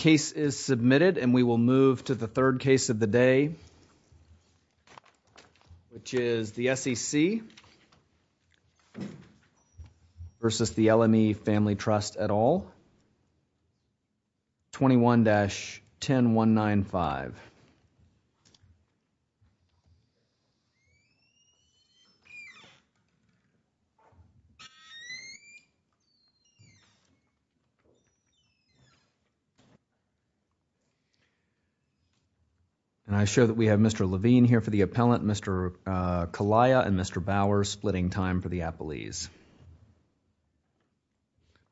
Case is submitted and we will move to the third case of the day which is the S.E.C. versus the L.M.E. Family Trust et al., 21-10195. And I show that we have Mr. Levine here for the appellant, Mr. Kalaya and Mr. Bauer splitting time for the appellees.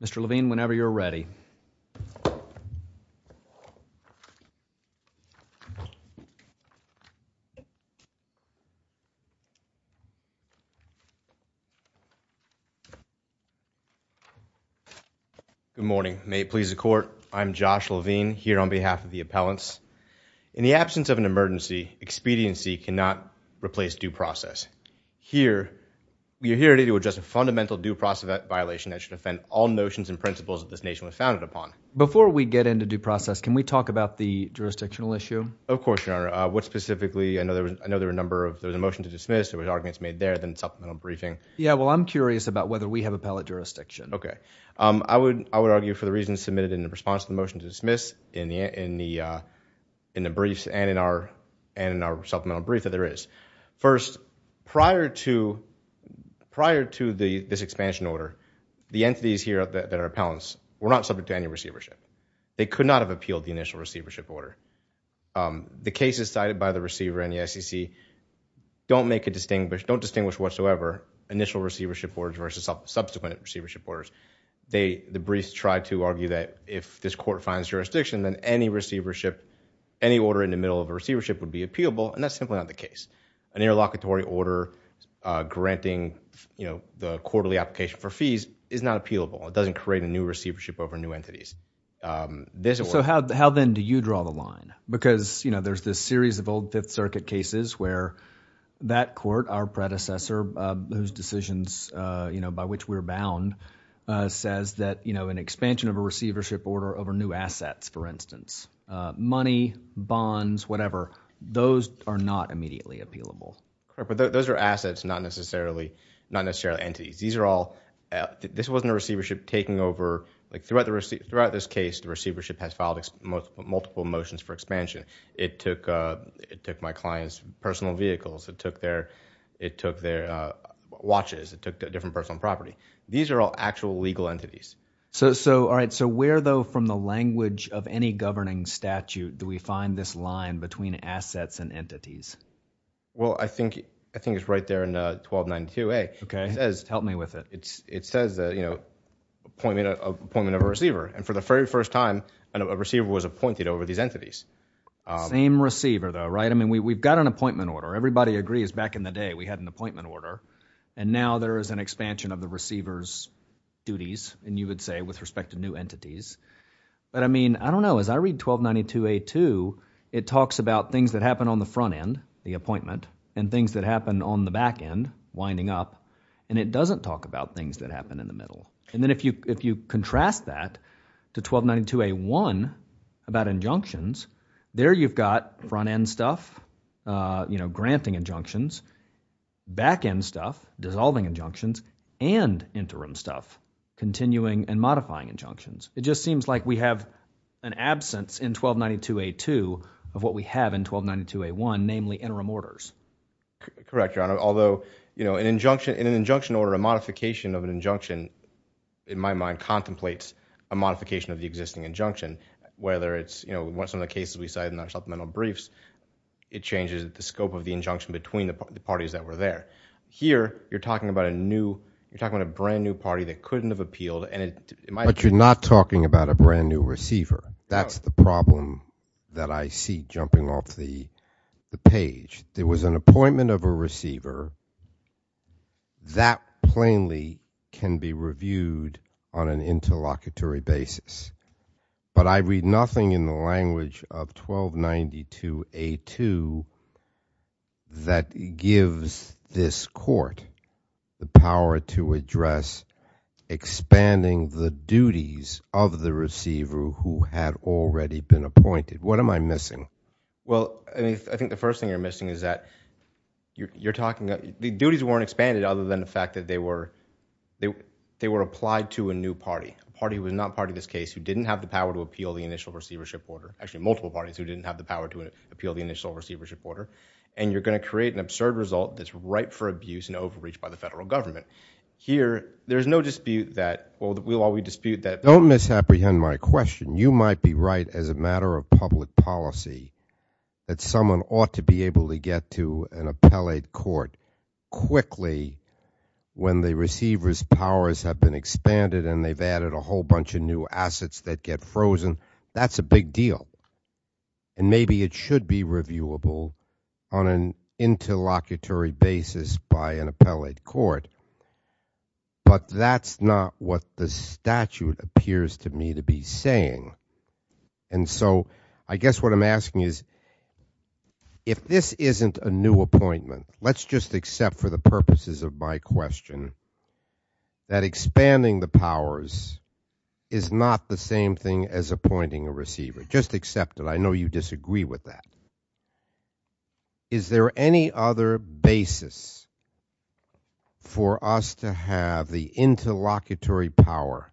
Mr. Levine, whenever you are ready. Good morning. May it please the court, I am Josh Levine here on behalf of the appellants. In the absence of an emergency, expediency cannot replace due process. And here, we are here today to address a fundamental due process violation that should offend all notions and principles of this nation we're founded upon. Before we get into due process, can we talk about the jurisdictional issue? Of course, Your Honor. What specifically? I know there were a number of, there was a motion to dismiss, there were arguments made there, then supplemental briefing. Yeah, well, I'm curious about whether we have appellate jurisdiction. Okay. I would argue for the reasons submitted in response to the motion to dismiss in the briefs and in our supplemental brief that there is. First, prior to this expansion order, the entities here that are appellants were not subject to any receivership. They could not have appealed the initial receivership order. The cases cited by the receiver in the SEC don't make a distinguished, don't distinguish whatsoever initial receivership orders versus subsequent receivership orders. The briefs tried to argue that if this court finds jurisdiction, then any receivership, any order in the middle of a receivership would be appealable, and that's simply not the case. An interlocutory order granting, you know, the quarterly application for fees is not appealable. It doesn't create a new receivership over new entities. So how then do you draw the line? Because you know, there's this series of old Fifth Circuit cases where that court, our predecessor, whose decisions, you know, by which we're bound, says that, you know, an entity, money, bonds, whatever, those are not immediately appealable. Correct. But those are assets, not necessarily, not necessarily entities. These are all, this wasn't a receivership taking over, like throughout the, throughout this case, the receivership has filed multiple motions for expansion. It took, it took my client's personal vehicles, it took their, it took their watches, it took a different personal property. These are all actual legal entities. So, so, all right. So where though from the language of any governing statute do we find this line between assets and entities? Well, I think, I think it's right there in 1292A. Okay. It says. Help me with it. It's, it says that, you know, appointment, appointment of a receiver, and for the very first time, a receiver was appointed over these entities. Same receiver though, right? I mean, we've got an appointment order. Everybody agrees back in the day we had an appointment order, and now there is an expansion of the receiver's duties, and you would say with respect to new entities, but I mean, I don't know. As I read 1292A2, it talks about things that happen on the front end, the appointment, and things that happen on the back end, winding up, and it doesn't talk about things that happen in the middle. And then if you, if you contrast that to 1292A1 about injunctions, there you've got front end stuff, uh, you know, granting injunctions, back end stuff, dissolving injunctions, and interim stuff, continuing and modifying injunctions. It just seems like we have an absence in 1292A2 of what we have in 1292A1, namely interim orders. Correct, Your Honor. Although, you know, an injunction, in an injunction order, a modification of an injunction, in my mind, contemplates a modification of the existing injunction, whether it's, you know, we want some of the cases we cited in our supplemental briefs, it changes the scope of the injunction between the parties that were there. Here, you're talking about a new, you're talking about a brand new party that couldn't have appealed and it, it might have. But you're not talking about a brand new receiver. That's the problem that I see jumping off the, the page. There was an appointment of a receiver that plainly can be reviewed on an interlocutory basis. But I read nothing in the language of 1292A2 that gives this court the power to address expanding the duties of the receiver who had already been appointed. What am I missing? Well, I mean, I think the first thing you're missing is that you're talking, the duties weren't expanded other than the fact that they were, they were applied to a new party, a party who was not part of this case, who didn't have the power to appeal the initial receivership order. Actually, multiple parties who didn't have the power to appeal the initial receivership order. And you're going to create an absurd result that's ripe for abuse and overreach by the federal government. Here, there's no dispute that, well, we'll always dispute that. Don't misapprehend my question. You might be right as a matter of public policy that someone ought to be able to get to an appointed a whole bunch of new assets that get frozen. That's a big deal. And maybe it should be reviewable on an interlocutory basis by an appellate court. But that's not what the statute appears to me to be saying. And so I guess what I'm asking is, if this isn't a new appointment, let's just accept for the purposes of my question that expanding the powers is not the same thing as appointing a receiver. Just accept it. I know you disagree with that. Is there any other basis for us to have the interlocutory power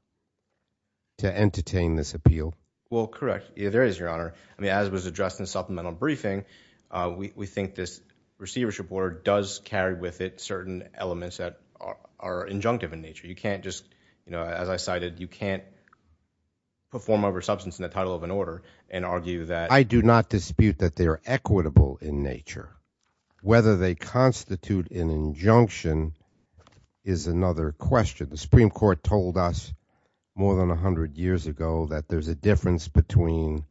to entertain this appeal? Well, correct. There is, Your Honor. I mean, as was addressed in the supplemental briefing, we think this receivership order does carry with it certain elements that are injunctive in nature. You can't just, as I cited, you can't perform over substance in the title of an order and argue that. I do not dispute that they are equitable in nature. Whether they constitute an injunction is another question. The Supreme Court told us more than 100 years ago that there's a difference between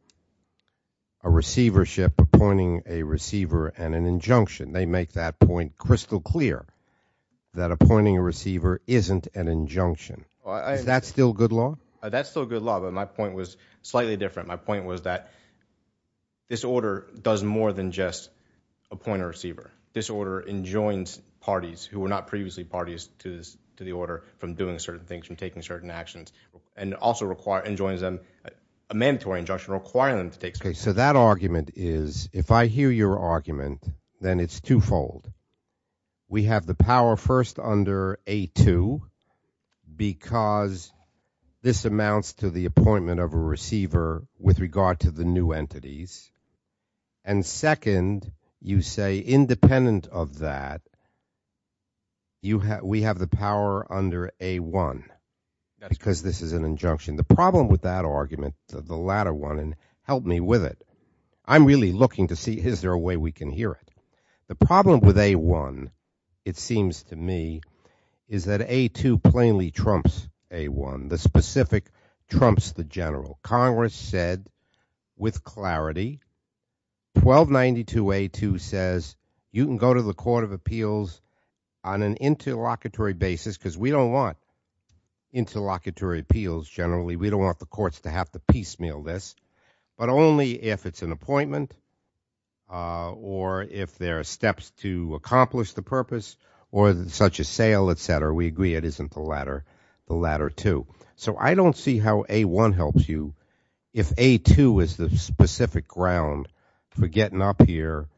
a receivership appointing a receiver and an injunction. They make that point crystal clear, that appointing a receiver isn't an injunction. Is that still good law? That's still good law, but my point was slightly different. My point was that this order does more than just appoint a receiver. This order enjoins parties who were not previously parties to the order from doing certain things, from taking certain actions, and also enjoins them, a mandatory injunction requiring them to take certain actions. Okay, so that argument is, if I hear your argument, then it's twofold. We have the power first under A2 because this amounts to the appointment of a receiver with regard to the new entities, and second, you say independent of that, we have the power under A1 because this is an injunction. The problem with that argument, the latter one, and help me with it, I'm really looking to see is there a way we can hear it. The problem with A1, it seems to me, is that A2 plainly trumps A1. The specific trumps the general. Congress said with clarity, 1292A2 says you can go to the Court of Appeals on an interlocutory basis because we don't want interlocutory appeals generally. We don't want the courts to have to piecemeal this, but only if it's an appointment or if there are steps to accomplish the purpose or such as sale, et cetera. We agree it isn't the latter two. So I don't see how A1 helps you if A2 is the specific ground for getting up here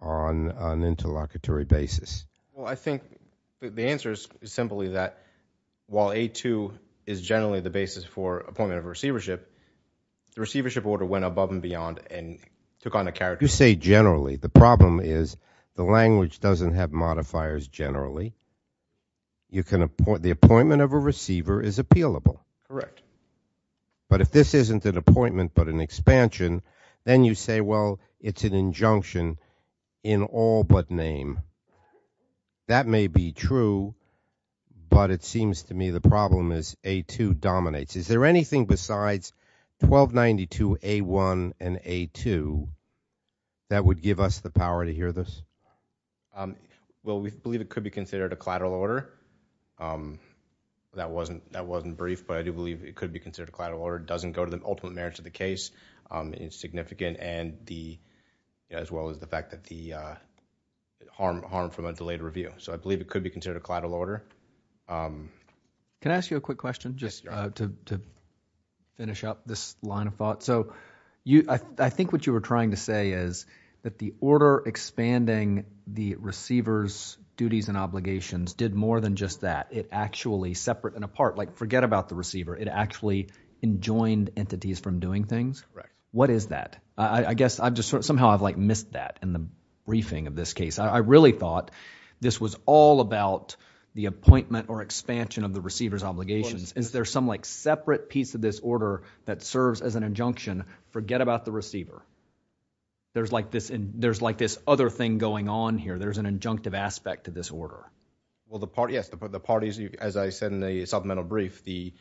on an interlocutory basis. Well, I think the answer is simply that while A2 is generally the basis for appointment of receivership, the receivership order went above and beyond and took on a character. You say generally. The problem is the language doesn't have modifiers generally. You can, the appointment of a receiver is appealable. Correct. But if this isn't an appointment but an expansion, then you say, well, it's an injunction in all but name. That may be true, but it seems to me the problem is A2 dominates. Is there anything besides 1292A1 and A2 that would give us the power to hear this? Well, we believe it could be considered a collateral order. That wasn't brief, but I do believe it could be considered a collateral order. It doesn't go to the ultimate merits of the case. It's significant and the, as well as the fact that the harm from a delayed review. So I believe it could be considered a collateral order. Can I ask you a quick question just to finish up this line of thought? So I think what you were trying to say is that the order expanding the receiver's duties and obligations did more than just that. It actually separate and apart, like forget about the receiver, it actually enjoined entities from doing things? Correct. What is that? I guess I've just sort of somehow I've like missed that in the briefing of this case. I really thought this was all about the appointment or expansion of the receiver's obligations. Is there some like separate piece of this order that serves as an injunction? Forget about the receiver. There's like this, there's like this other thing going on here. There's an injunctive aspect to this order. Well, the parties, as I said in the supplemental brief, the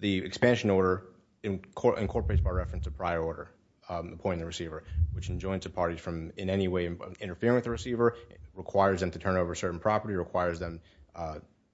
expansion order incorporates by reference to prior order, appointing the receiver, which enjoins the parties from in any way interfering with the receiver, requires them to turn over certain property, requires them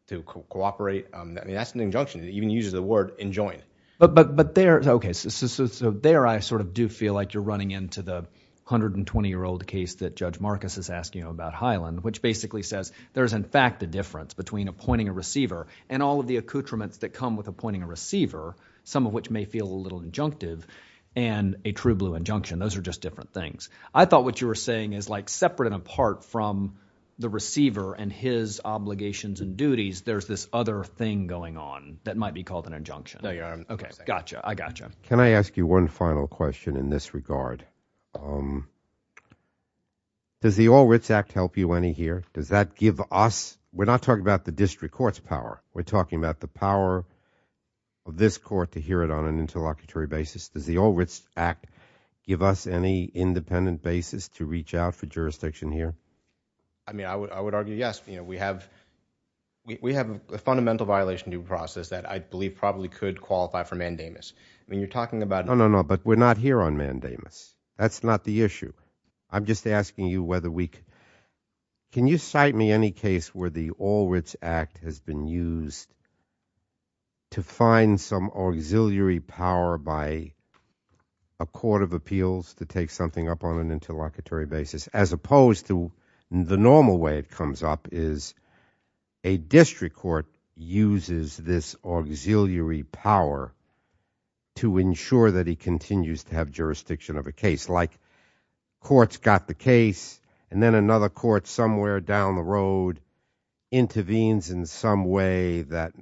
to cooperate. I mean, that's an injunction. It even uses the word enjoined. But there, okay, so there I sort of do feel like you're running into the 120-year-old case that Judge Marcus is asking about Highland, which basically says there's in fact a difference between appointing a receiver and all of the accoutrements that come with appointing a receiver, some of which may feel a little injunctive and a true blue injunction. Those are just different things. I thought what you were saying is like separate and apart from the receiver and his obligations and duties, there's this other thing going on that might be called an injunction. No, you're right. Okay. Gotcha. I gotcha. Can I ask you one final question in this regard? Does the All Writs Act help you any here? Does that give us, we're not talking about the district court's power, we're talking about the power of this court to hear it on an interlocutory basis. Does the All Writs Act give us any independent basis to reach out for jurisdiction here? I mean, I would argue yes. We have a fundamental violation due process that I believe probably could qualify for mandamus. I mean, you're talking about- No, no, no. But we're not here on mandamus. That's not the issue. I'm just asking you whether we can... Can you cite me any case where the All Writs Act has been used to find some auxiliary power by a court of appeals to take something up on an interlocutory basis as opposed to the normal way it comes up is a district court uses this auxiliary power to ensure that he continues to have jurisdiction of a case. Like courts got the case and then another court somewhere down the road intervenes in some way that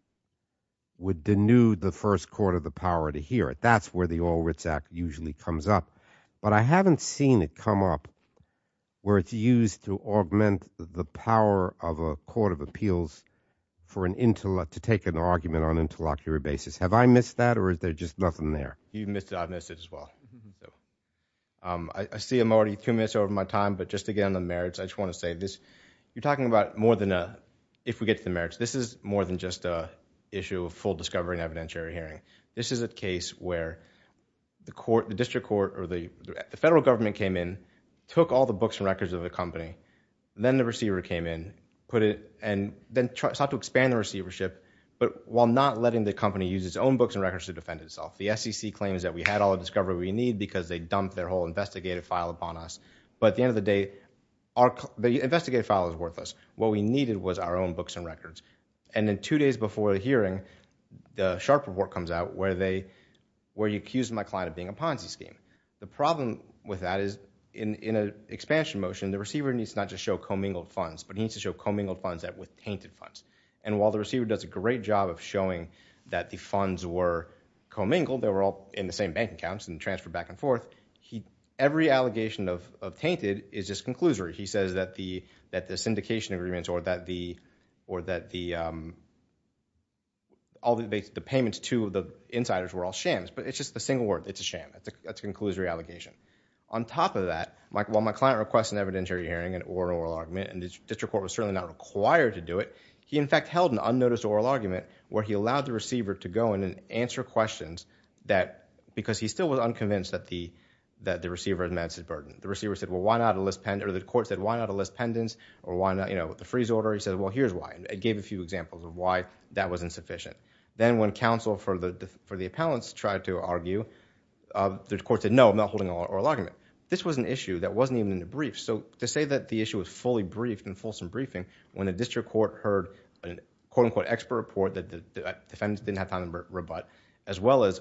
would denude the first court of the power to hear it. That's where the All Writs Act usually comes up. But I haven't seen it come up where it's used to augment the power of a court of appeals for an intellect to take an argument on an interlocutory basis. Have I missed that or is there just nothing there? You missed it. I missed it as well. I see I'm already two minutes over my time, but just to get on the merits, I just want to say this. You're talking about more than a... If we get to the merits, this is more than just a issue of full discovery and evidentiary hearing. This is a case where the district court or the federal government came in, took all the and sought to expand the receivership, but while not letting the company use its own books and records to defend itself. The SEC claims that we had all the discovery we need because they dumped their whole investigative file upon us. But at the end of the day, the investigative file is worthless. What we needed was our own books and records. And then two days before the hearing, the Sharpe report comes out where you accuse my client of being a Ponzi scheme. The problem with that is in an expansion motion, the receiver needs to not just show commingled funds, but he needs to show commingled funds with tainted funds. And while the receiver does a great job of showing that the funds were commingled, they were all in the same bank accounts and transferred back and forth, every allegation of tainted is just conclusory. He says that the syndication agreements or that all the payments to the insiders were all shams. But it's just a single word. It's a sham. That's a conclusory allegation. On top of that, while my client requests an evidentiary hearing, an oral argument, and the district court was certainly not required to do it, he in fact held an unnoticed oral argument where he allowed the receiver to go in and answer questions because he still was unconvinced that the receiver had met his burden. The court said, why not a list pendants or the freeze order? He said, well, here's why. It gave a few examples of why that was insufficient. Then when counsel for the appellants tried to argue, the court said, no, I'm not holding an oral argument. This was an issue that wasn't even in the brief. So to say that the issue was fully briefed in a fulsome briefing when the district court heard an expert report that the defense didn't have time to rebut as well as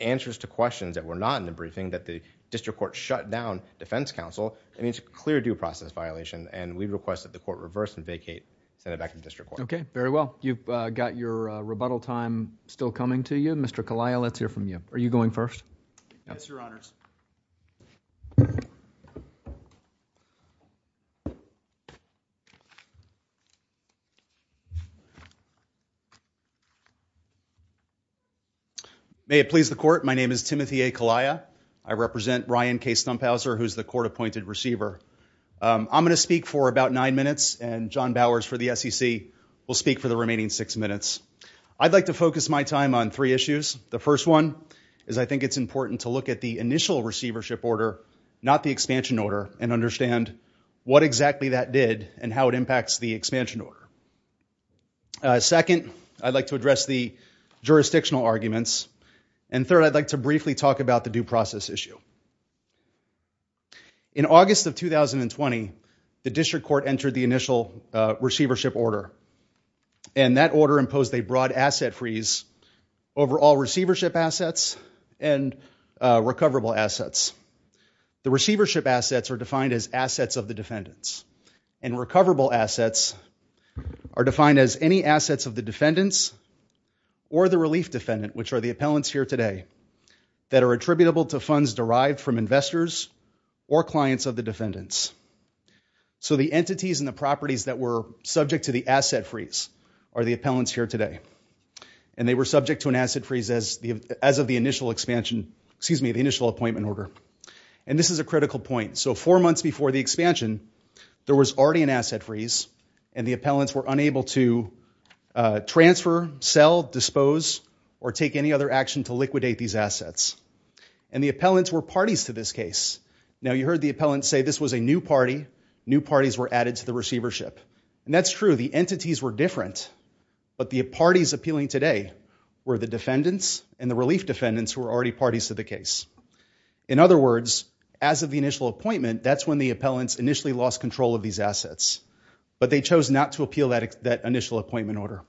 answers to questions that were not in the briefing that the district court shut down defense counsel, it's a clear due process violation. And we request that the court reverse and vacate and send it back to the district court. Okay. Very well. You've got your rebuttal time still coming to you. Mr. Kaliya, let's hear from you. Are you going first? Yes, your honors. May it please the court. My name is Timothy A. Kaliya. I represent Ryan K. Stumphauser, who's the court appointed receiver. I'm going to speak for about nine minutes and John Bowers for the SEC will speak for the remaining six minutes. I'd like to focus my time on three issues. The first one is I think it's important to look at the initial receivership order, not the expansion order, and understand what exactly that did and how it impacts the expansion order. Second, I'd like to address the jurisdictional arguments. And third, I'd like to briefly talk about the due process issue. In August of 2020, the district court entered the initial receivership order and that order imposed a broad asset freeze over all receivership assets and recoverable assets. The receivership assets are defined as assets of the defendants and recoverable assets are defined as any assets of the defendants or the relief defendant, which are the appellants here today, that are attributable to funds derived from investors or clients of the defendants. So the entities and the properties that were subject to the asset freeze are the appellants here today. And they were subject to an asset freeze as of the initial expansion, excuse me, the initial appointment order. And this is a critical point. So four months before the expansion, there was already an asset freeze and the appellants were unable to transfer, sell, dispose, or take any other action to liquidate these assets. And the appellants were parties to this case. Now you heard the appellants say this was a new party, new parties were added to the receivership. And that's true, the entities were different. But the parties appealing today were the defendants and the relief defendants who were already parties to the case. In other words, as of the initial appointment, that's when the appellants initially lost control of these assets. But they chose not to appeal that initial appointment order.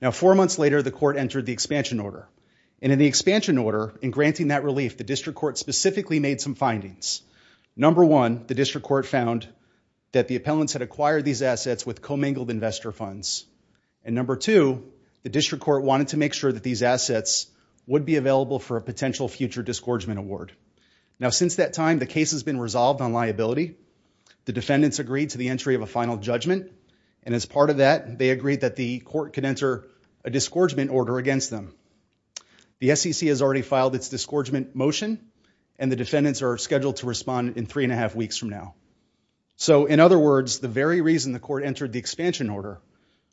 Now four months later, the court entered the expansion order. And in the expansion order, in granting that relief, the district court specifically made some findings. Number one, the district court found that the appellants had acquired these assets with commingled investor funds. And number two, the district court wanted to make sure that these assets would be available for a potential future disgorgement award. Now since that time, the case has been resolved on liability. The defendants agreed to the entry of a final judgment. And as part of that, they agreed that the court could enter a disgorgement order against them. The SEC has already filed its disgorgement motion. And the defendants are scheduled to respond in three and a half weeks from now. So in other words, the very reason the court entered the expansion order,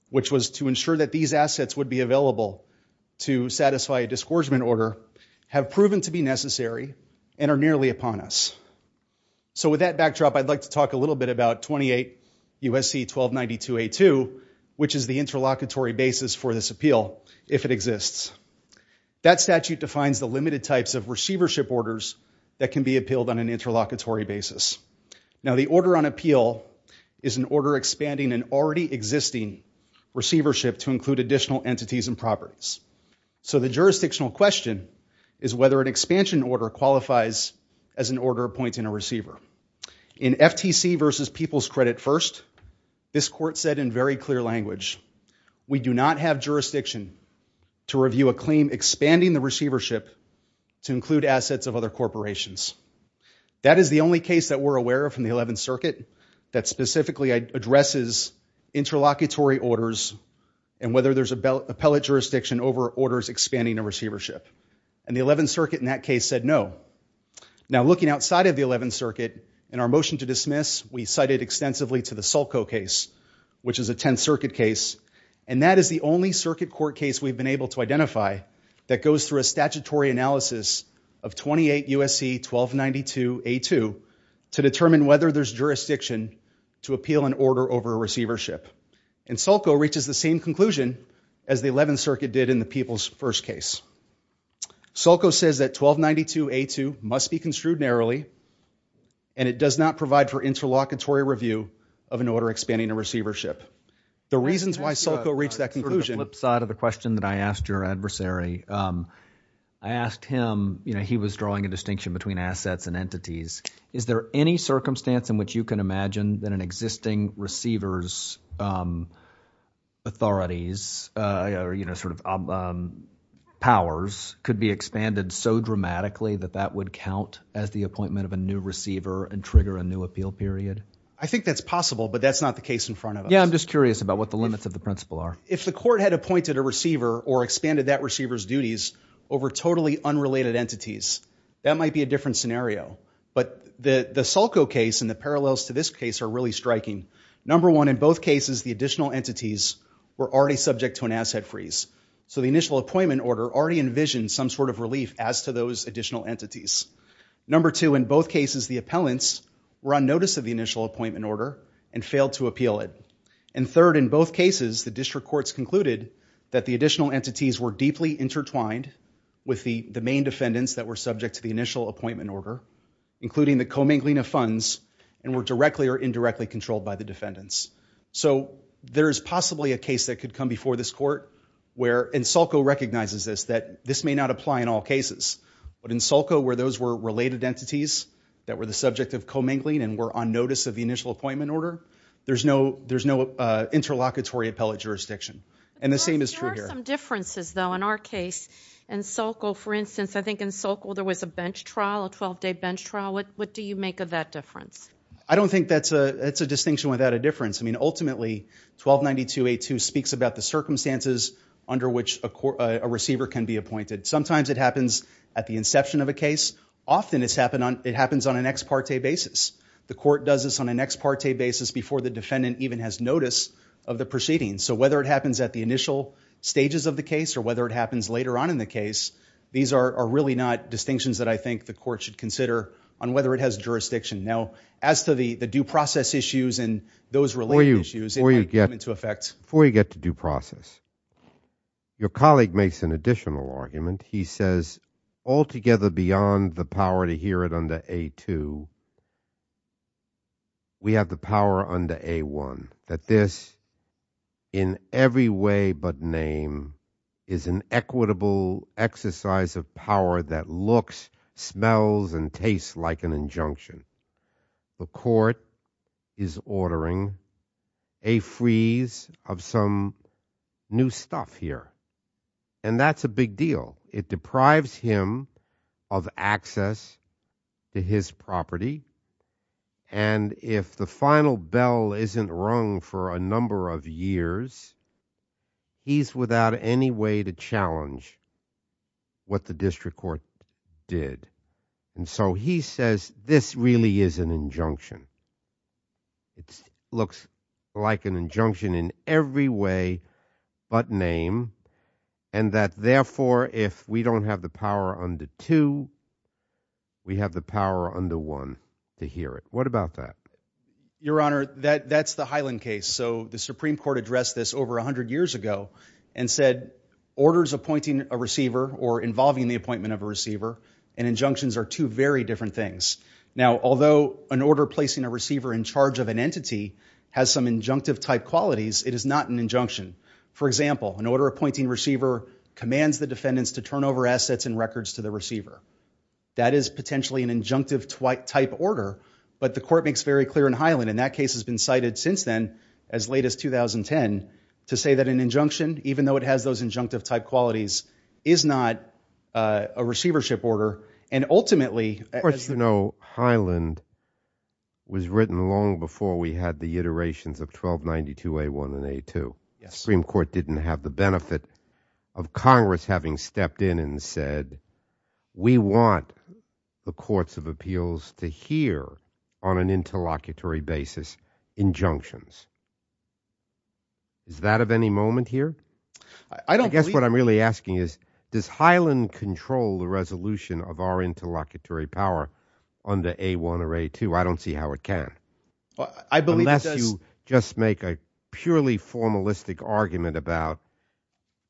which was to ensure that these assets would be available to satisfy a disgorgement order, have proven to be necessary and are nearly upon us. So with that backdrop, I'd like to talk a little bit about 28 USC 1292A2, which is the interlocutory basis for this appeal, if it exists. That statute defines the limited types of receivership orders that can be appealed on an interlocutory basis. Now the order on appeal is an order expanding an already existing receivership to include additional entities and properties. So the jurisdictional question is whether an expansion order qualifies as an order appointing a receiver. In FTC v. People's Credit First, this court said in very clear language, we do not have jurisdiction to review a claim expanding the receivership to include assets of other corporations. That is the only case that we're aware of from the 11th Circuit that specifically addresses interlocutory orders and whether there's appellate jurisdiction over orders expanding a receivership. And the 11th Circuit in that case said no. Now looking outside of the 11th Circuit, in our motion to dismiss, we cited extensively to the Sulco case, which is a 10th Circuit case, and that is the only Circuit court case we've been able to identify that goes through a statutory analysis of 28 USC 1292A2 to determine whether there's jurisdiction to appeal an order over a receivership. And Sulco reaches the same conclusion as the 11th Circuit did in the People's First case. Sulco says that 1292A2 must be construed narrowly and it does not provide for interlocutory review of an order expanding a receivership. The reasons why Sulco reached that conclusion. Sort of the flip side of the question that I asked your adversary, I asked him, you know, he was drawing a distinction between assets and entities. Is there any circumstance in which you can imagine that an existing receiver's authorities or, you know, sort of powers could be expanded so dramatically that that would count as the appointment of a new receiver and trigger a new appeal period? I think that's possible, but that's not the case in front of us. Yeah, I'm just curious about what the limits of the principle are. If the court had appointed a receiver or expanded that receiver's duties over totally unrelated entities, that might be a different scenario. But the Sulco case and the parallels to this case are really striking. Number one, in both cases, the additional entities were already subject to an asset freeze. So the initial appointment order already envisioned some sort of relief as to those additional entities. Number two, in both cases, the appellants were on notice of the initial appointment order and failed to appeal it. And third, in both cases, the district courts concluded that the additional entities were the main defendants that were subject to the initial appointment order, including the commingling of funds, and were directly or indirectly controlled by the defendants. So there is possibly a case that could come before this court where, and Sulco recognizes this, that this may not apply in all cases. But in Sulco, where those were related entities that were the subject of commingling and were on notice of the initial appointment order, there's no interlocutory appellate jurisdiction. And the same is true here. There are some differences, though. In our case, in Sulco, for instance, I think in Sulco there was a bench trial, a 12-day bench trial. What do you make of that difference? I don't think that's a distinction without a difference. I mean, ultimately, 1292A2 speaks about the circumstances under which a receiver can be appointed. Sometimes it happens at the inception of a case. Often it happens on an ex parte basis. The court does this on an ex parte basis before the defendant even has notice of the proceedings. So whether it happens at the initial stages of the case or whether it happens later on in the case, these are really not distinctions that I think the court should consider on whether it has jurisdiction. Now, as to the due process issues and those related issues, it might come into effect. Before you get to due process, your colleague makes an additional argument. He says, altogether beyond the power to hear it under A2, we have the power under A1 that this, in every way but name, is an equitable exercise of power that looks, smells, and tastes like an injunction. The court is ordering a freeze of some new stuff here. And that's a big deal. It deprives him of access to his property. And if the final bell isn't rung for a number of years, he's without any way to challenge what the district court did. And so he says, this really is an injunction. It looks like an injunction in every way but name. And that therefore, if we don't have the power under 2, we have the power under 1 to hear it. What about that? Your Honor, that's the Highland case. So the Supreme Court addressed this over 100 years ago and said, orders appointing a receiver or involving the appointment of a receiver and injunctions are two very different things. Now, although an order placing a receiver in charge of an entity has some injunctive type qualities, it is not an injunction. For example, an order appointing a receiver commands the defendants to turn over assets and records to the receiver. That is potentially an injunctive type order. But the court makes very clear in Highland, and that case has been cited since then as late as 2010, to say that an injunction, even though it has those injunctive type qualities, is not a receivership order. And ultimately, as you know, Highland was written long before we had the iterations of 1292A1 and A2. The Supreme Court didn't have the benefit of Congress having stepped in and said, we want the courts of appeals to hear on an interlocutory basis injunctions. Is that of any moment here? I guess what I'm really asking is, does Highland control the resolution of our interlocutory power under A1 or A2? I don't see how it can. Unless you just make a purely formalistic argument about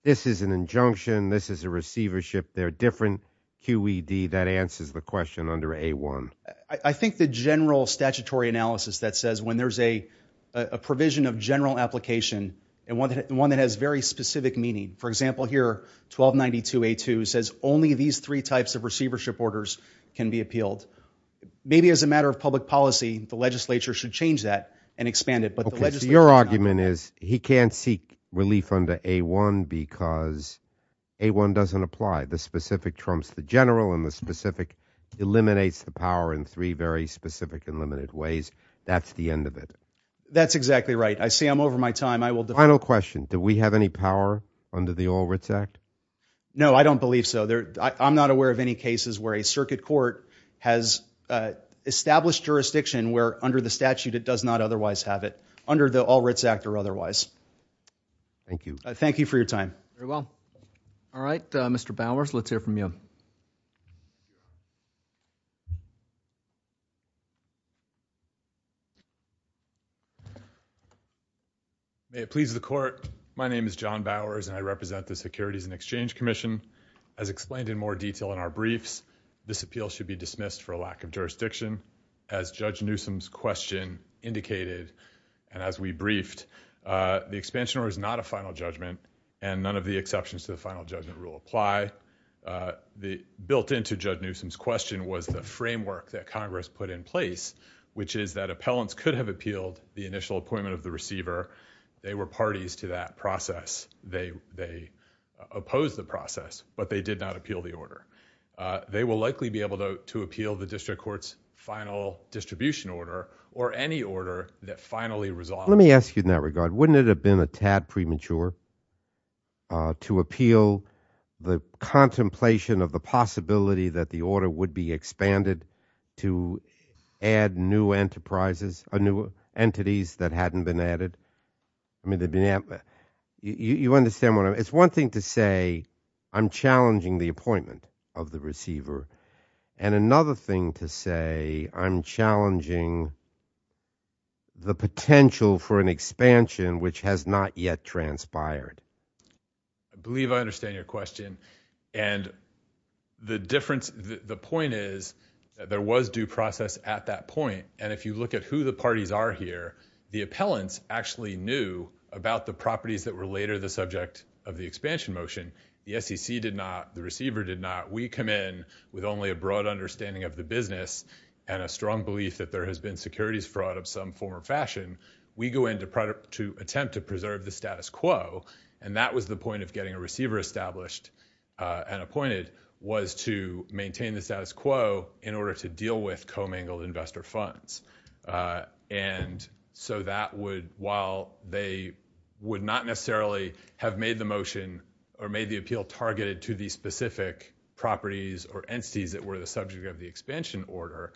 this is an injunction, this is a receivership, they're different, QED, that answers the question under A1. I think the general statutory analysis that says when there's a provision of general application and one that has very specific meaning, for example here, 1292A2 says only these three types of receivership orders can be appealed. Maybe as a matter of public policy, the legislature should change that and expand it. Your argument is he can't seek relief under A1 because A1 doesn't apply. The specific trumps the general and the specific eliminates the power in three very specific and limited ways. That's the end of it. That's exactly right. I see I'm over my time. I will defer. Final question. Do we have any power under the All Writs Act? No, I don't believe so. I'm not aware of any cases where a circuit court has established jurisdiction where under the statute it does not otherwise have it, under the All Writs Act or otherwise. Thank you for your time. Very well. All right. Mr. Bowers, let's hear from you. May it please the court, my name is John Bowers and I represent the Securities and Exchange Commission. As explained in more detail in our briefs, this appeal should be dismissed for a lack of jurisdiction. As Judge Newsom's question indicated and as we briefed, the expansion order is not a final judgment and none of the exceptions to the final judgment rule apply. The built into Judge Newsom's question was the framework that Congress put in place, which is that appellants could have appealed the initial appointment of the receiver. They were parties to that process. They opposed the process, but they did not appeal the order. They will likely be able to appeal the district court's final distribution order or any order that finally resolves. Let me ask you in that regard, wouldn't it have been a tad premature to appeal the contemplation of the possibility that the order would be expanded to add new entities that hadn't been added? I mean, you understand what I'm, it's one thing to say I'm challenging the appointment of the receiver and another thing to say I'm challenging the potential for an expansion which has not yet transpired. I believe I understand your question and the difference, the point is there was due process at that point. If you look at who the parties are here, the appellants actually knew about the properties that were later the subject of the expansion motion. The SEC did not, the receiver did not. We come in with only a broad understanding of the business and a strong belief that there has been securities fraud of some form or fashion. We go in to attempt to preserve the status quo and that was the point of getting a receiver established and appointed was to maintain the status quo in order to deal with commingled investor funds. And so that would, while they would not necessarily have made the motion or made the appeal targeted to the specific properties or entities that were the subject of the expansion order,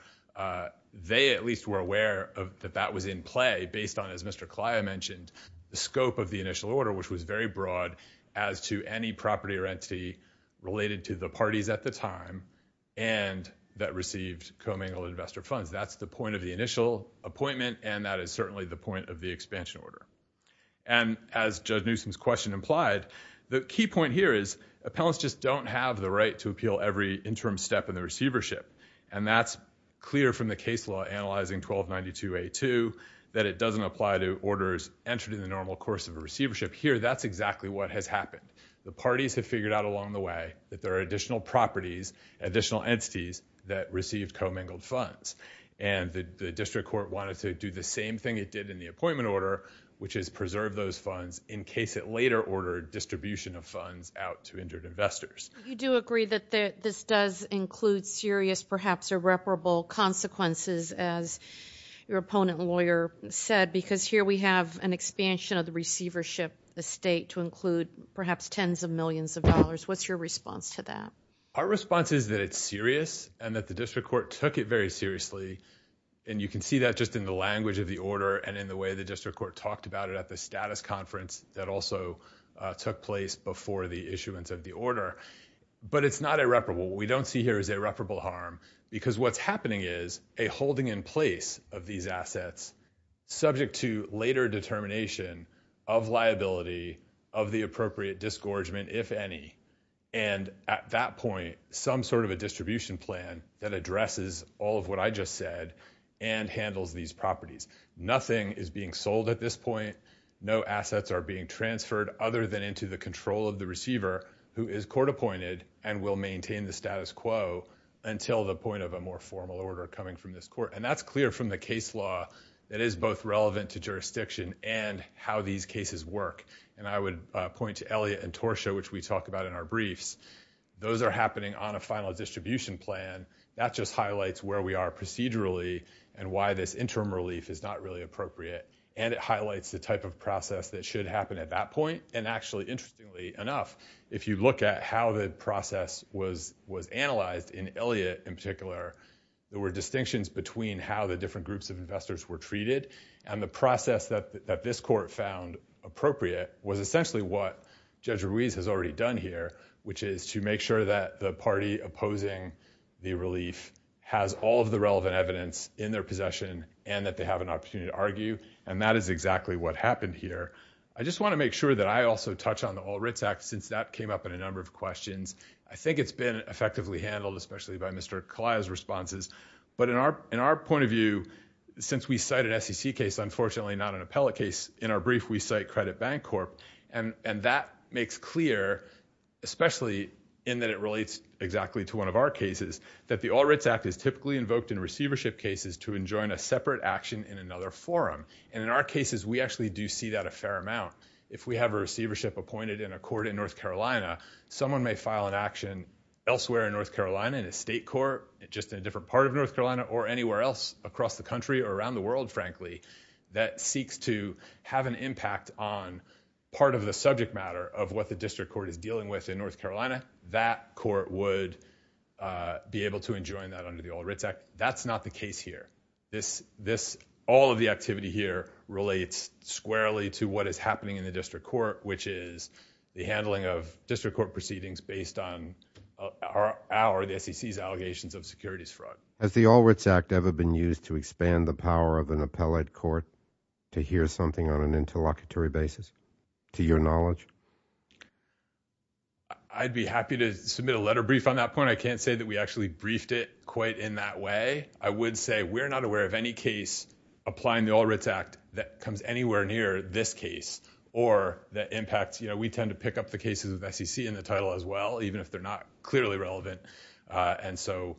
they at least were aware that that was in play based on, as Mr. Kleya mentioned, the scope of the initial order which was very broad as to any property or entity related to the funds. That's the point of the initial appointment and that is certainly the point of the expansion order. And as Judge Newsom's question implied, the key point here is appellants just don't have the right to appeal every interim step in the receivership and that's clear from the case law analyzing 1292A2 that it doesn't apply to orders entered in the normal course of a receivership. Here, that's exactly what has happened. The parties have figured out along the way that there are additional properties, additional entities that received commingled funds. And the district court wanted to do the same thing it did in the appointment order, which is preserve those funds in case it later ordered distribution of funds out to injured investors. You do agree that this does include serious, perhaps irreparable consequences, as your opponent lawyer said, because here we have an expansion of the receivership estate to include perhaps tens of millions of dollars. What's your response to that? Our response is that it's serious and that the district court took it very seriously. And you can see that just in the language of the order and in the way the district court talked about it at the status conference that also took place before the issuance of the order. But it's not irreparable. What we don't see here is irreparable harm because what's happening is a holding in place of these assets subject to later determination of liability of the appropriate disgorgement, if any. And at that point, some sort of a distribution plan that addresses all of what I just said and handles these properties. Nothing is being sold at this point. No assets are being transferred other than into the control of the receiver who is court appointed and will maintain the status quo until the point of a more formal order coming from this court. And that's clear from the case law that is both relevant to jurisdiction and how these cases work. And I would point to Elliott and Torsha, which we talk about in our briefs. Those are happening on a final distribution plan. That just highlights where we are procedurally and why this interim relief is not really appropriate. And it highlights the type of process that should happen at that point. And actually, interestingly enough, if you look at how the process was analyzed in Elliott in particular, there were distinctions between how the different groups of investors were essentially what Judge Ruiz has already done here, which is to make sure that the party opposing the relief has all of the relevant evidence in their possession and that they have an opportunity to argue. And that is exactly what happened here. I just want to make sure that I also touch on the All Writs Act, since that came up in a number of questions. I think it's been effectively handled, especially by Mr. Kalaya's responses. But in our point of view, since we cite an SEC case, unfortunately not an appellate case, in our brief, we cite Credit Bank Corp. And that makes clear, especially in that it relates exactly to one of our cases, that the All Writs Act is typically invoked in receivership cases to enjoin a separate action in another forum. And in our cases, we actually do see that a fair amount. If we have a receivership appointed in a court in North Carolina, someone may file an action elsewhere in North Carolina, in a state court, just in a different part of North Carolina, or anywhere else across the country, or around the world, frankly, that seeks to have an impact on part of the subject matter of what the district court is dealing with in North Carolina, that court would be able to enjoin that under the All Writs Act. That's not the case here. All of the activity here relates squarely to what is happening in the district court, which is the handling of district court proceedings based on our, the SEC's, allegations of securities fraud. Has the All Writs Act ever been used to expand the power of an appellate court to hear something on an interlocutory basis, to your knowledge? I'd be happy to submit a letter brief on that point. I can't say that we actually briefed it quite in that way. I would say we're not aware of any case applying the All Writs Act that comes anywhere near this case, or that impacts, you know, we tend to pick up the cases of SEC in the title as well, even if they're not clearly relevant. And so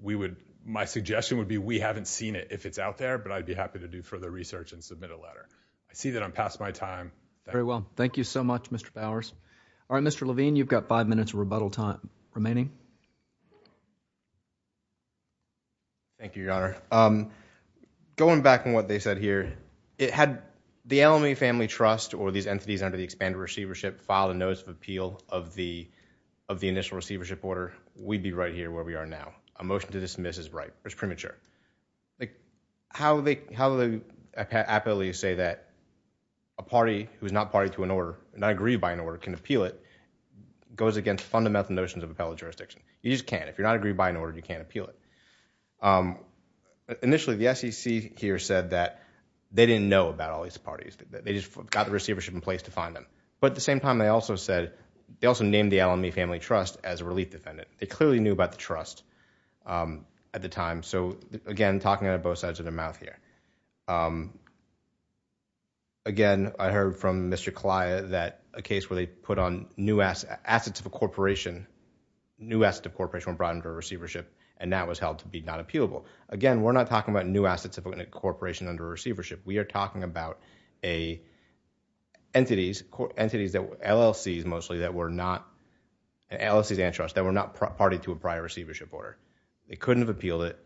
we would, my suggestion would be we haven't seen it, if it's out there, but I'd be happy to do further research and submit a letter. I see that I'm past my time. Very well. Thank you so much, Mr. Bowers. All right, Mr. Levine, you've got five minutes of rebuttal time remaining. Thank you, Your Honor. Going back on what they said here, it had the Alameda Family Trust, or these entities under the expanded receivership filed a notice of appeal of the initial receivership order. We'd be right here where we are now. A motion to dismiss is right, it's premature. How do they appallingly say that a party who is not party to an order, not aggrieved by an order, can appeal it, goes against fundamental notions of appellate jurisdiction. You just can't. If you're not aggrieved by an order, you can't appeal it. Initially, the SEC here said that they didn't know about all these parties, that they just got the receivership in place to find them. At the same time, they also named the Alameda Family Trust as a relief defendant. They clearly knew about the trust at the time. Again, talking out of both sides of their mouth here. Again, I heard from Mr. Calaya that a case where they put on assets of a corporation, new assets of a corporation were brought under a receivership, and that was held to be not appealable. Again, we're not talking about new assets of a corporation under a receivership. We are talking about entities, LLCs mostly, that were not party to a prior receivership order. They couldn't have appealed it,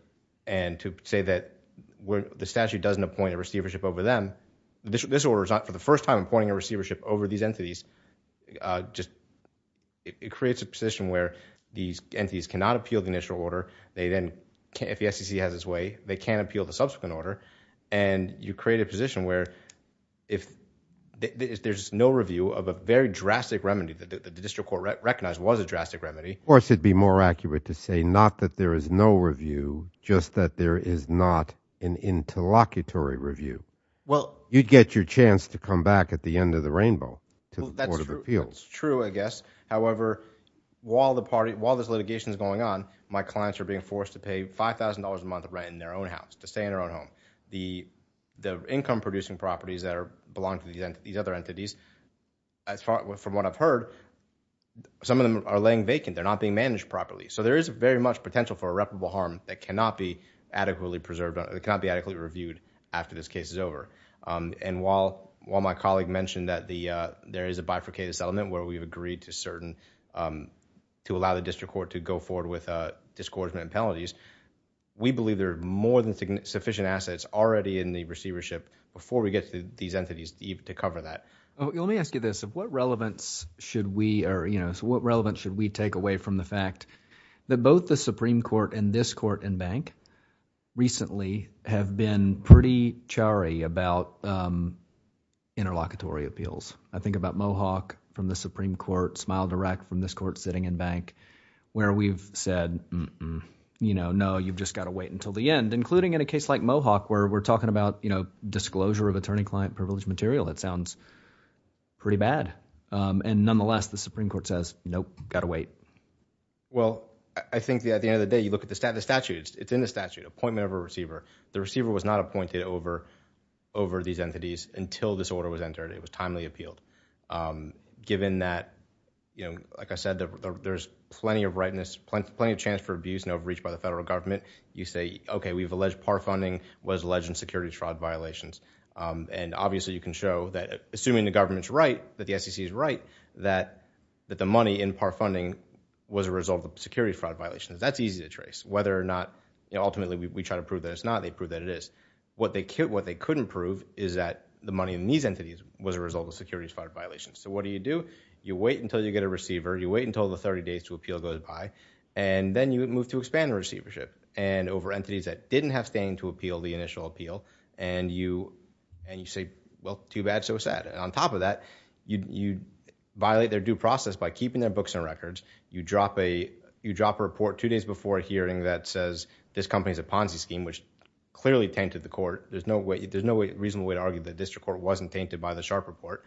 and to say that the statute doesn't appoint a receivership over them, this order is not for the first time appointing a receivership over these entities. It creates a position where these entities cannot appeal the initial order. If the SEC has its way, they can appeal the subsequent order. You create a position where there's no review of a very drastic remedy that the district court recognized was a drastic remedy. Of course, it'd be more accurate to say not that there is no review, just that there is not an interlocutory review. You'd get your chance to come back at the end of the rainbow to the Court of Appeals. That's true, I guess. However, while this litigation is going on, my clients are being forced to pay $5,000 a month rent in their own house, to stay in their own home. The income-producing properties that belong to these other entities, from what I've heard, some of them are laying vacant. They're not being managed properly. There is very much potential for irreparable harm that cannot be adequately reviewed after this case is over. While my colleague mentioned that there is a bifurcated settlement where we've agreed to certain... to allow the district court to go forward with a discordant penalties, we believe there are more than sufficient assets already in the receivership before we get to these entities to cover that. Let me ask you this. What relevance should we take away from the fact that both the Supreme Court and this court and bank recently have been pretty charry about interlocutory appeals? I think about Mohawk from the Supreme Court, Smile Direct from this court sitting in bank, where we've said, no, you've just got to wait until the end, including in a case like Mohawk where we're talking about disclosure of attorney-client privilege material. It sounds pretty bad. Nonetheless, the Supreme Court says, nope, got to wait. I think at the end of the day, you look at the statute, it's in the statute, appointment of a receiver. The receiver was not appointed over these entities until this order was entered. It was timely appealed. Given that, like I said, there's plenty of rightness, plenty of chance for abuse and overreach by the federal government, you say, okay, we've alleged par funding was alleged in security fraud violations. Obviously, you can show that assuming the government's right, that the SEC is right, that the money in par funding was a result of security fraud violations. That's easy to trace. Whether or not, ultimately, we try to prove that it's not, they prove that it is. What they couldn't prove is that the money in these entities was a result of security fraud violations. What do you do? You wait until you get a receiver, you wait until the 30 days to appeal goes by, and then you move to expand the receivership. Over entities that didn't have standing to appeal the initial appeal, and you say, well, too bad, so sad. On top of that, you violate their due process by keeping their books and records. You drop a report two days before a hearing that says, this company's a Ponzi scheme, which clearly tainted the court. There's no reasonable way to argue the district court wasn't tainted by the Sharpe report.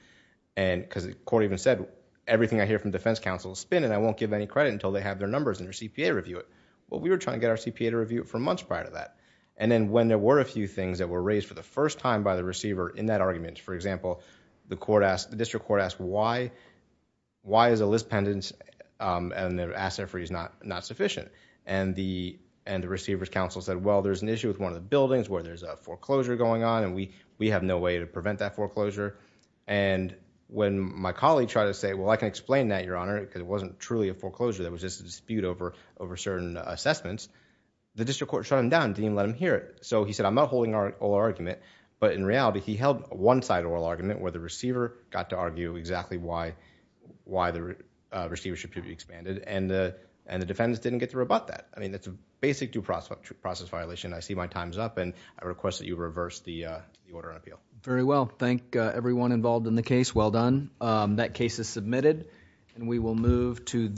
The court even said, everything I hear from defense counsel is spin, and I won't give any credit until they have their numbers and their CPA review it. We were trying to get our CPA to review it for months prior to that. When there were a few things that were raised for the first time by the receiver in that argument, for example, the court asked, the district court asked, why is a list pendant and their asset free is not sufficient? The receiver's counsel said, well, there's an issue with one of the buildings where there's a foreclosure going on, and we have no way to prevent that foreclosure. When my colleague tried to say, well, I can explain that, Your Honor, because it wasn't truly a foreclosure. That was just a dispute over certain assessments. The district court shut him down. Didn't even let him hear it. He said, I'm not holding oral argument, but in reality, he held one-sided oral argument where the receiver got to argue exactly why the receivership should be expanded, and the defense didn't get to rebut that. I mean, that's a basic due process violation. I see my time's up, and I request that you reverse the order of appeal. Very well. Thank everyone involved in the case. Well done. That case is submitted, and we will move to the next.